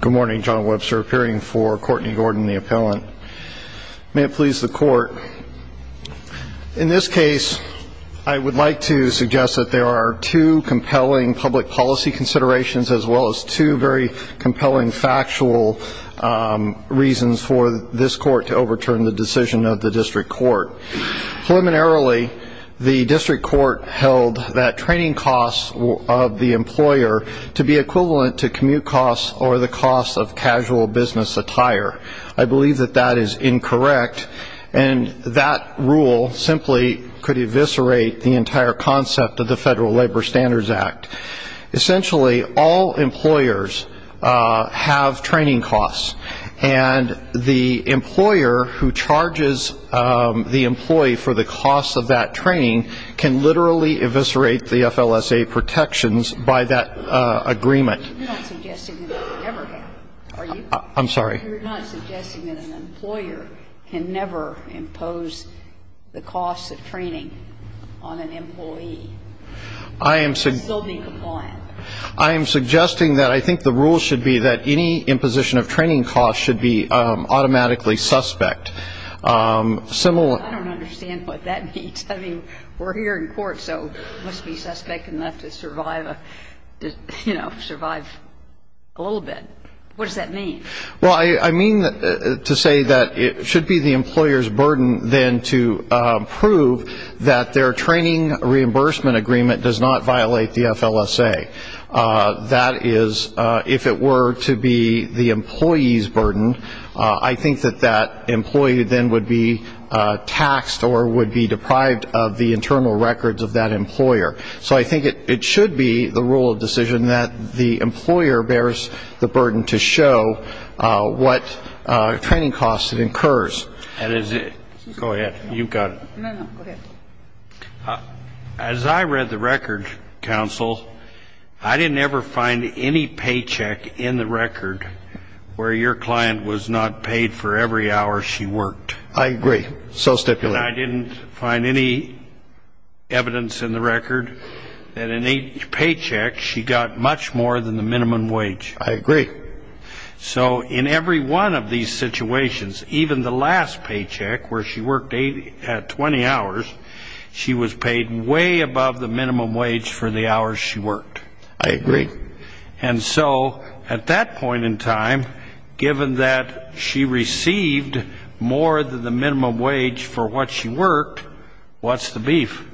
Good morning, John Webster appearing for Courtney Gordon, the appellant. May it please the court, in this case I would like to suggest that there are two compelling public policy considerations as well as two very compelling factual reasons for this court to overturn the decision of the district court. Preliminarily, the district court held that training costs of the employer to be equivalent to commute costs or the cost of casual business attire. I believe that that is incorrect and that rule simply could eviscerate the entire concept of the Federal Labor Standards Act. Essentially, all employers have training costs and the employer who charges the employee for the cost of that training can literally eviscerate the FLSA protections by that agreement. You're not suggesting that they never have. Are you? I'm sorry? You're not suggesting that an employer can never impose the costs of training on an employee. I am suggesting they'll be compliant. I am suggesting that I think the rule should be that any imposition of training costs should be automatically suspect. I don't understand what that means. I mean, we're here in court, so we must be suspect enough to survive, you know, survive a little bit. What does that mean? Well, I mean to say that it should be the employer's burden then to prove that their training reimbursement agreement does not violate the FLSA. That is, if it were to be the employee's burden, I think that that employee then would be taxed or would be deprived of the internal records of that employer. So I think it should be the rule of decision that the employer bears the burden to show what training costs it incurs. And is it go ahead. You've got it. No, no. Go ahead. Counsel, as I read the record, counsel, I didn't ever find any paycheck in the record where your client was not paid for every hour she worked. I agree. So stipulate. And I didn't find any evidence in the record that in each paycheck she got much more than the minimum wage. I agree. So in every one of these situations, even the last paycheck where she worked 20 hours, she was paid way above the minimum wage for the hours she worked. I agree. And so at that point in time, given that she received more than the minimum wage for what she worked, what's the beef?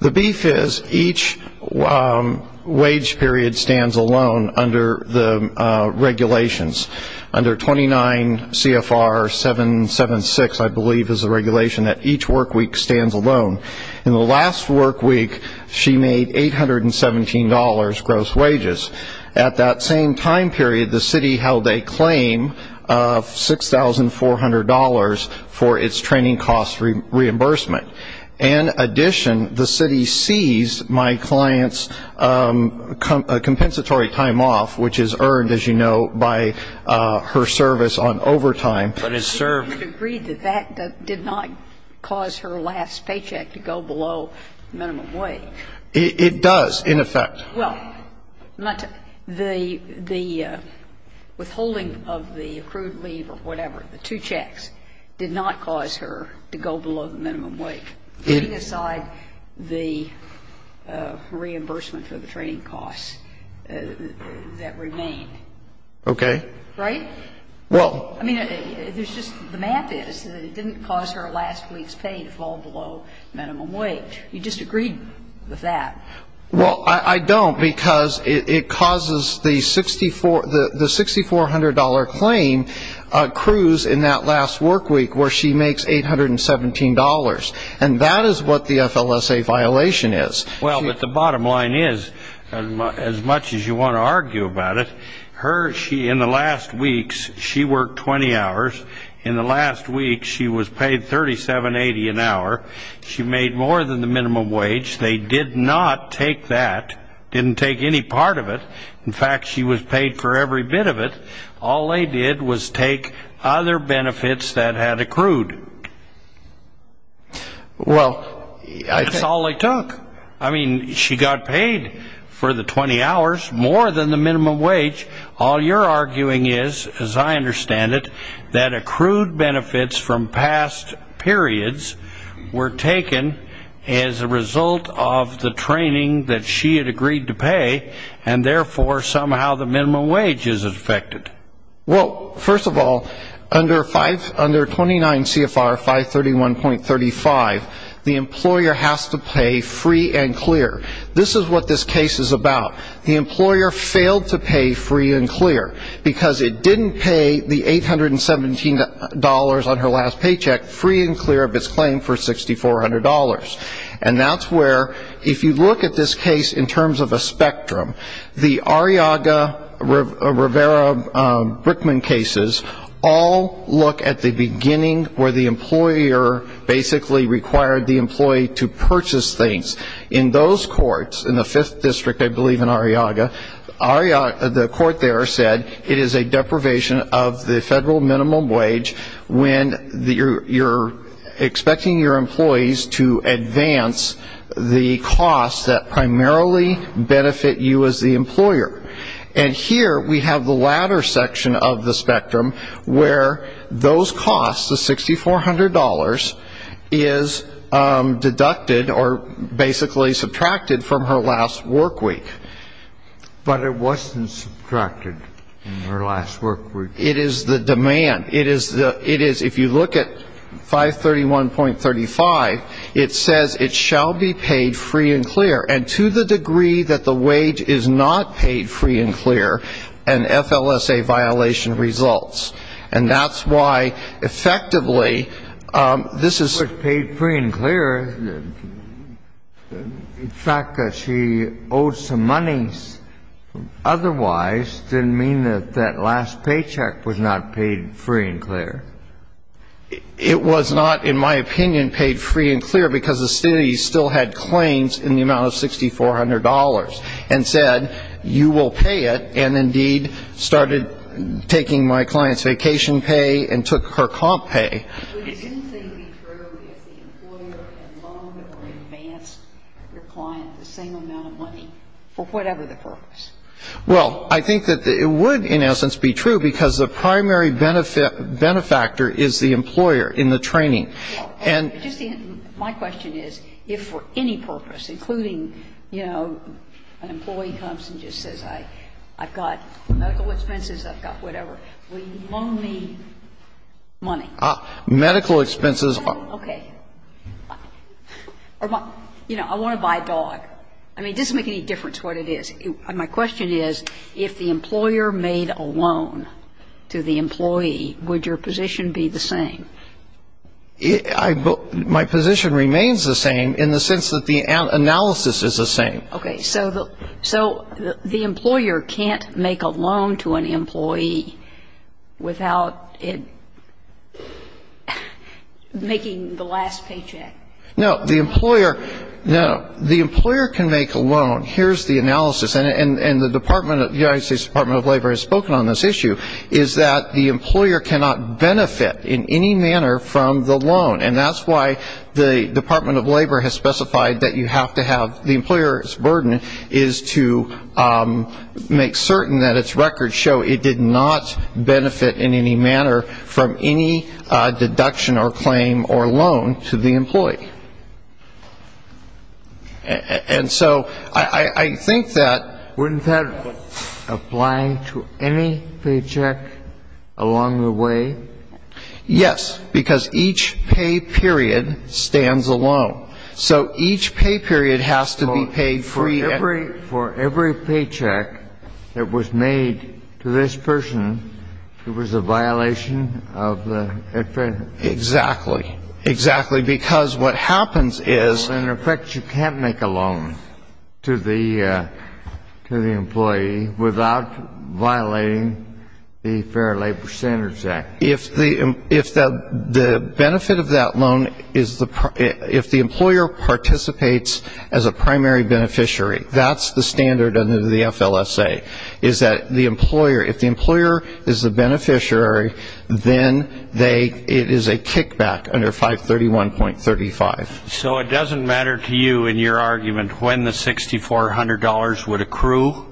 The beef is each wage period stands alone under the regulations. Under 29 CFR 776, I believe, is the regulation that each work week stands alone. In the last work week, she made $817 gross wages. At that same time period, the city held a claim of $6,400 for its training cost reimbursement. In addition, the city seized my client's compensatory time off, which is earned, as you know, by her service on overtime. But it served. You agree that that did not cause her last paycheck to go below minimum wage? It does, in effect. Well, the withholding of the accrued leave or whatever, the two checks, did not cause her to go below the minimum wage, putting aside the reimbursement for the training costs that remained. Okay. Right? Well — I mean, there's just the math is that it didn't cause her last week's pay to fall below minimum wage. You disagreed with that. Well, I don't, because it causes the $6,400 claim cruise in that last work week, where she makes $817. And that is what the FLSA violation is. Well, but the bottom line is, as much as you want to argue about it, in the last weeks, she worked 20 hours. In the last week, she was paid $3,780 an hour. She made more than the minimum wage. They did not take that, didn't take any part of it. In fact, she was paid for every bit of it. All they did was take other benefits that had accrued. Well, I — That's all they took. I mean, she got paid for the 20 hours, more than the minimum wage. All you're arguing is, as I understand it, that accrued benefits from past periods were taken as a result of the training that she had agreed to pay, and therefore, somehow the minimum wage is affected. Well, first of all, under 29 CFR 531.35, the employer has to pay free and clear. This is what this case is about. The employer failed to pay free and clear, because it didn't pay the $817 on her last paycheck, free and clear of its claim for $6,400. And that's where, if you look at this case in terms of a spectrum, the Arriaga-Rivera-Brickman cases all look at the beginning where the employer basically required the employee to purchase things. In those courts, in the Fifth District, I believe, in Arriaga, the court there said it is a deprivation of the federal minimum wage when you're expecting your employees to advance the costs that primarily benefit you as the employer. And here, we have the latter section of the spectrum, where those costs, the $6,400, is deducted, or basically subtracted from her last work week. But it wasn't subtracted in her last work week. It is the demand. It is the — it is — if you look at 531.35, it says it shall be paid free and clear. And to the degree that the wage is not paid free and clear, an FLSA violation results. And that's why, effectively, this is — But if it was paid free and clear, the fact that she owed some money otherwise didn't mean that that last paycheck was not paid free and clear. It was not, in my opinion, paid free and clear, because the city still had claims in the amount of $6,400, and said, you will pay it, and, indeed, started taking my client's vacation pay and took her comp pay. But wouldn't they be true if the employer had loaned or advanced your client the same amount of money for whatever the purpose? Well, I think that it would, in essence, be true, because the primary benefactor is the employer in the training. My question is, if for any purpose, including, you know, an employee comes and just says, I've got medical expenses, I've got whatever, will you loan me money? Medical expenses are — Okay. You know, I want to buy a dog. I mean, it doesn't make any difference what it is. My question is, if the employer made a loan to the employee, would your position be the same? My position remains the same, in the sense that the analysis is the same. Okay. So the employer can't make a loan to an employee without it — making the last paycheck. No. The employer — no. The employer can make a loan. Here's the analysis. And the Department of — the United States Department of Labor has spoken on this issue — is that the employer cannot benefit in any manner from the loan. And that's why the Department of Labor has specified that you have to have — the employer's burden is to make certain that its records show it did not benefit in any manner from any deduction or claim or loan to the employee. And so I think that — Wouldn't that apply to any paycheck along the way? Yes. Because each pay period stands alone. So each pay period has to be paid free — So for every paycheck that was made to this person, it was a violation of the — Exactly. Exactly. Because what happens is — In effect, you can't make a loan to the employee without violating the Fair Labor Standards Act. If the — the benefit of that loan is the — if the employer participates as a primary beneficiary, that's the standard under the FLSA, is that the employer — if the employer is the beneficiary, then they — it is a kickback under 531.35. So it doesn't matter to you in your argument when the $6,400 would accrue?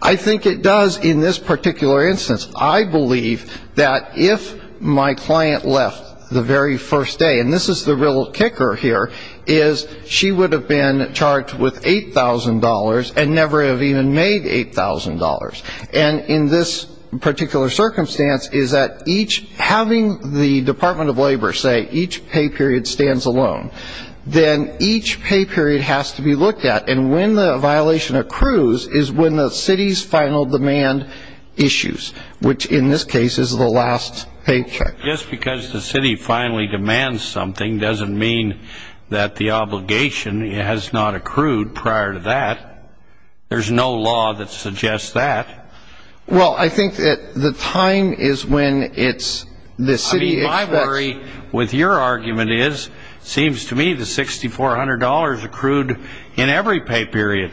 I think it does in this particular instance. I believe that if my client left the very first day — and this is the real kicker here — is she would have been charged with $8,000 and never have even made $8,000. And in this particular circumstance, is that each — having the Department of Labor say each pay period stands alone, then each pay period has to be looked at. And when the violation accrues is when the city's final demand issues, which in this case is the last paycheck. Just because the city finally demands something doesn't mean that the obligation has not accrued prior to that. There's no law that suggests that. Well, I think that the time is when it's — the city expects — I mean, my worry with your argument is, seems to me, the $6,400 accrued in every pay period.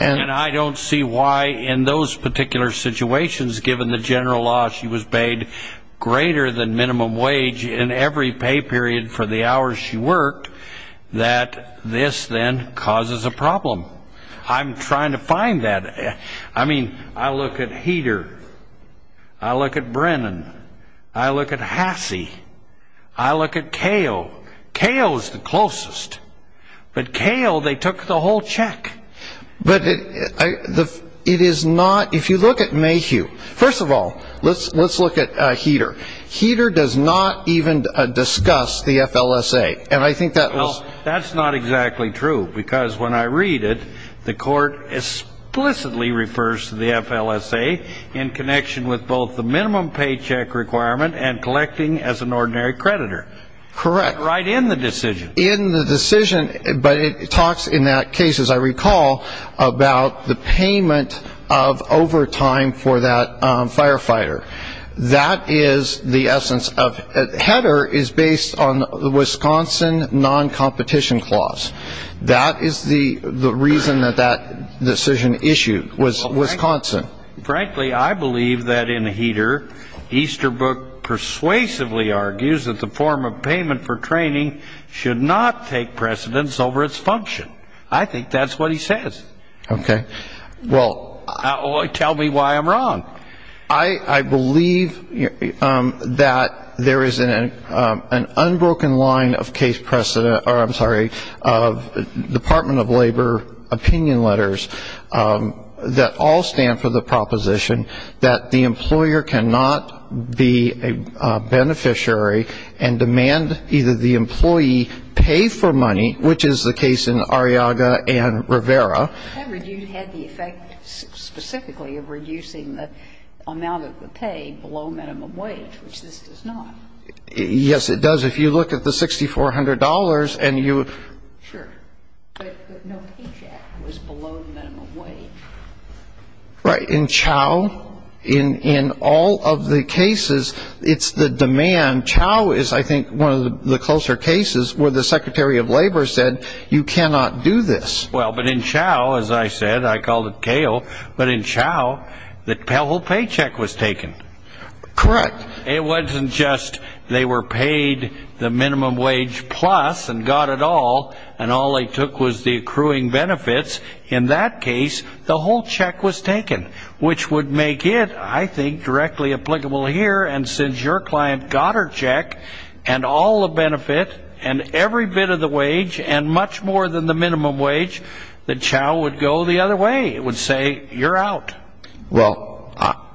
And I don't see why in those particular situations, given the general law, she was paid greater than minimum wage in every pay period for the hours she worked, that this then causes a problem. I'm trying to find that. I mean, I look at Heater. I look at Brennan. I look at Hasse. I look at Kale. Kale is the closest. But Kale, they took the whole check. But it is not — if you look at Mayhew — first of all, let's look at Heater. Heater does not even discuss the FLSA. And I think that was — Well, that's not exactly true. Because when I read it, the court explicitly refers to the FLSA in connection with both the minimum paycheck requirement and collecting as an ordinary creditor. Correct. Right in the decision. But it talks in that case, as I recall, about the payment of overtime for that firefighter. That is the essence of — Heater is based on the Wisconsin non-competition clause. That is the reason that that decision issued was Wisconsin. Frankly, I believe that in Heater, Easterbrook persuasively argues that the form of payment for training should not take precedence over its function. I think that's what he says. Okay. Well — Tell me why I'm wrong. I believe that there is an unbroken line of case precedent — or, I'm sorry, of Department of Labor opinion letters that all stand for the proposition that the employer cannot be a beneficiary and demand either the employee pay for money, which is the case in Arriaga and Rivera. That review had the effect specifically of reducing the amount of the pay below minimum wage, which this does not. Yes, it does. If you look at the $6,400 and you — Sure. But no paycheck was below minimum wage. Right. In Chao, in all of the cases, it's the demand. Chao is, I think, one of the closer cases where the Secretary of Labor said, you cannot do this. Well, but in Chao, as I said — I called it CAO — but in Chao, the whole paycheck was taken. Correct. It wasn't just they were paid the minimum wage plus and got it all, and all they took was the accruing benefits. In that case, the whole check was taken, which would make it, I think, directly applicable here. And since your client got her check and all the benefit and every bit of the wage and much more than the minimum wage, then Chao would go the other way. It would say, you're out. Well,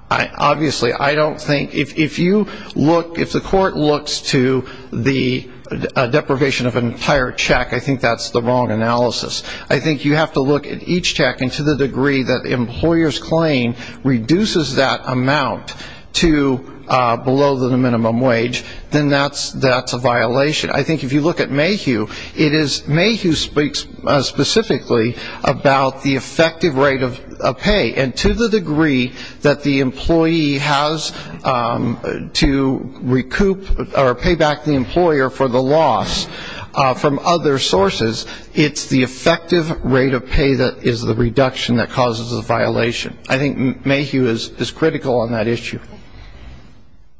obviously, I don't think — if you look — if the court looks to the deprivation of an entire check, I think that's the wrong analysis. I think you have to look at each check. And to the degree that the employer's claim reduces that amount to below the minimum wage, then that's a violation. I think if you look at Mayhew, it is — Mayhew speaks specifically about the effective rate of pay. And to the degree that the employee has to recoup or pay back the employer for the loss from other sources, it's the effective rate of pay that is the reduction that causes a violation. I think Mayhew is critical on that issue.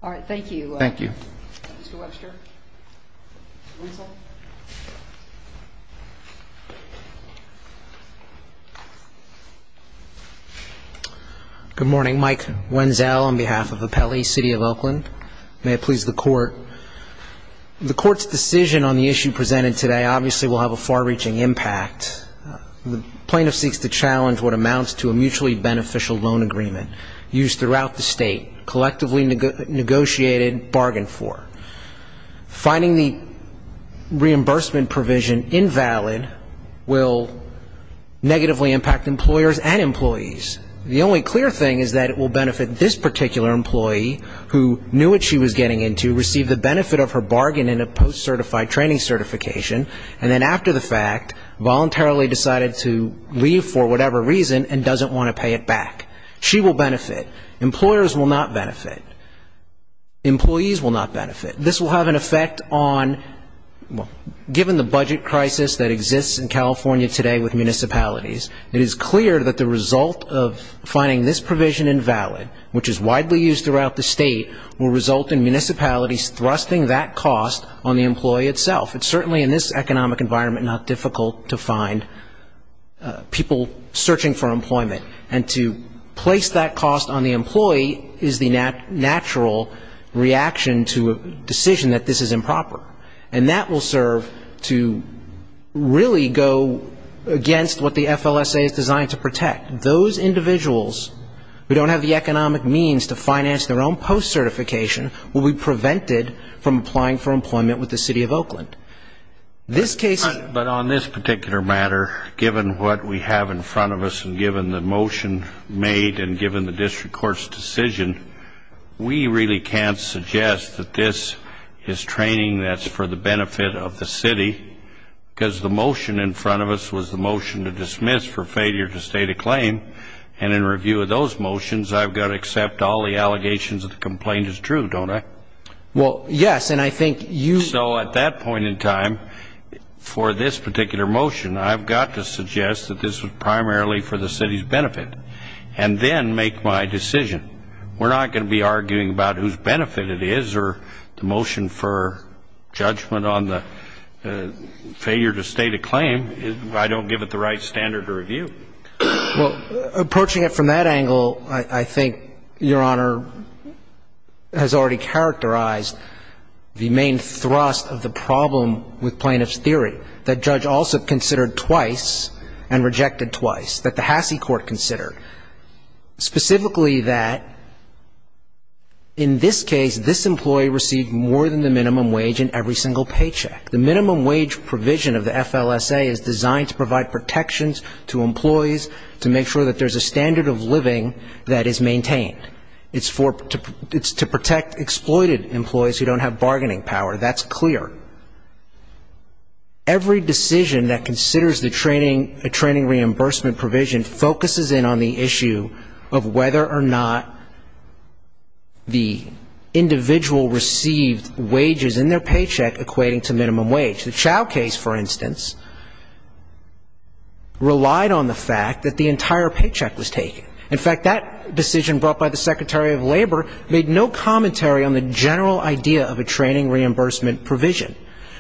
All right. Thank you. Thank you. Mr. Webster. Wenzel. Good morning. Mike Wenzel on behalf of Appelli City of Oakland. May it please the Court. The Court's decision on the issue presented today obviously will have a far-reaching impact. The plaintiff seeks to challenge what amounts to a mutually beneficial loan agreement used throughout the state, collectively negotiated, bargained for. Finding the reimbursement provision invalid will negatively impact employers and employees. The only clear thing is that it will benefit this particular employee who knew what she was getting into, received the benefit of her bargain in a post-certified training certification, and then after the fact voluntarily decided to leave for whatever reason and doesn't want to pay it back. She will benefit. Employers will not benefit. Employees will not benefit. This will have an effect on — given the budget crisis that exists in California today with municipalities, it is clear that the result of finding this provision invalid, which is widely used throughout the state, will result in municipalities thrusting that cost on the employee itself. It's certainly in this economic environment not difficult to find people searching for employment. And to place that cost on the employee is the natural reaction to a decision that this is improper. And that will serve to really go against what the FLSA is designed to protect. Those individuals who don't have the economic means to finance their own post-certification will be prevented from applying for employment with the City of Oakland. This case — But on this particular matter, given what we have in front of us and given the motion made and given the district court's decision, we really can't suggest that this is training that's for the benefit of the city. Because the motion in front of us was the motion to dismiss for failure to state a claim. And in review of those motions, I've got to accept all the allegations that the complaint is true, don't I? Well, yes. And I think you — So at that point in time, for this particular motion, I've got to suggest that this was primarily for the city's benefit. And then make my decision. We're not going to be arguing about whose benefit it is or the motion for judgment on the failure to state a claim. I don't give it the right standard to review. Well, approaching it from that angle, I think, Your Honor, has already characterized the main thrust of the problem with plaintiff's theory, that Judge Alsop considered twice and rejected twice, that the Hasse Court considered. Specifically that in this case, this employee received more than the minimum wage in every single paycheck. The minimum wage provision of the FLSA is designed to provide protections to employees, to make sure that there's a standard of living that is maintained. It's for — it's to protect exploited employees who don't have bargaining power. That's clear. Every decision that considers the training — the training reimbursement provision focuses in on the issue of whether or not the individual received wages in their paycheck equating to minimum wage. The Chau case, for instance, relied on the fact that the entire paycheck was taken. In fact, that decision brought by the Secretary of Labor made no commentary on the general idea of a training reimbursement provision.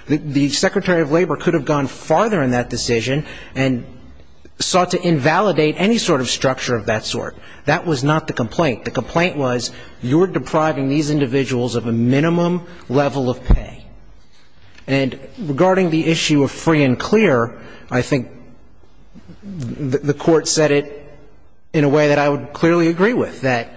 The Secretary of Labor could have gone farther in that decision and sought to invalidate any sort of structure of that sort. That was not the complaint. The complaint was, you're depriving these individuals of a minimum level of pay. And regarding the issue of free and clear, I think the Court said it in a way that I would clearly agree with, that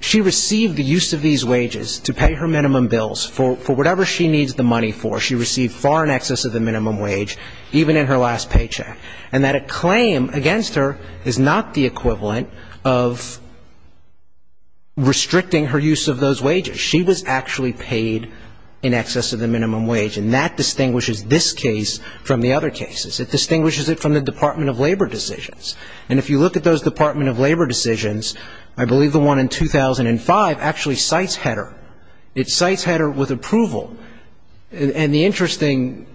she received the use of these wages to pay her minimum bills for whatever she needs the money for. She received far in excess of the minimum wage, even in her last paycheck. And that a claim against her is not the equivalent of restricting her use of those wages. She was actually paid in excess of the minimum wage. And that distinguishes this case from the other cases. It distinguishes it from the Department of Labor decisions. And if you look at those Department of Labor decisions, I believe the one in 2005 actually cites HEDR. It cites HEDR with approval. And the interesting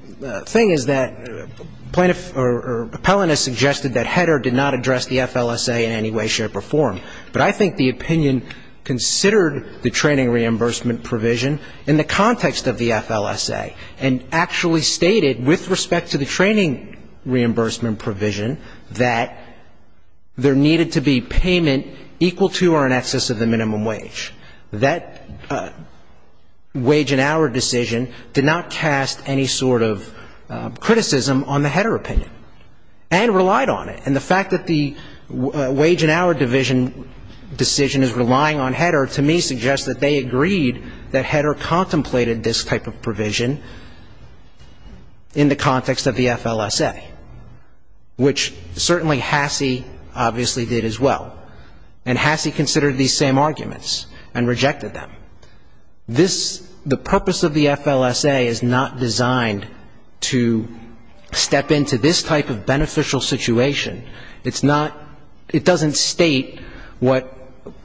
thing is that plaintiffs or appellants suggested that HEDR did not address the FLSA in any way, shape or form. But I think the opinion considered the training reimbursement provision in the context of the FLSA and actually stated, with respect to the training reimbursement provision, that there needed to be payment equal to or in excess of the minimum wage. That wage and hour decision did not cast any sort of criticism on the HEDR opinion and relied on it. And the fact that the wage and hour division decision is relying on HEDR, to me suggests that they agreed that HEDR contemplated this type of provision in the context of the FLSA, which certainly Hassey obviously did as well. And Hassey considered these same arguments and rejected them. This, the purpose of the FLSA is not designed to step into this type of beneficial situation. It's not, it doesn't state what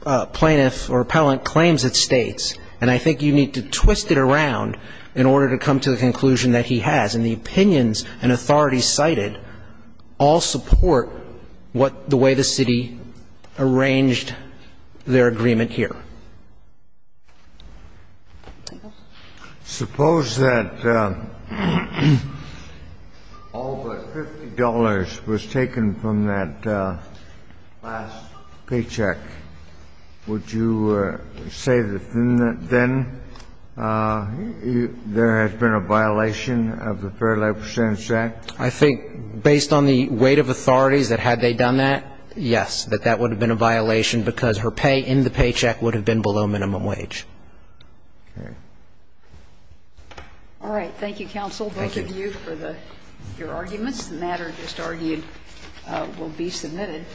a plaintiff or appellant claims it states. And I think you need to twist it around in order to come to the conclusion that he has. And I think it's important to note that all of the arguments and the opinions and authorities cited all support what the way the city arranged their agreement here. Suppose that all but $50 was taken from that last paycheck. Would you say that then there has been a violation of the Fair Labor Standards Act? I think based on the weight of authorities that had they done that, yes, that that would have been a violation because her pay in the paycheck would have been below minimum wage. Okay. All right. Thank you, counsel. Thank you. Both of you for your arguments. The matter just argued will be submitted.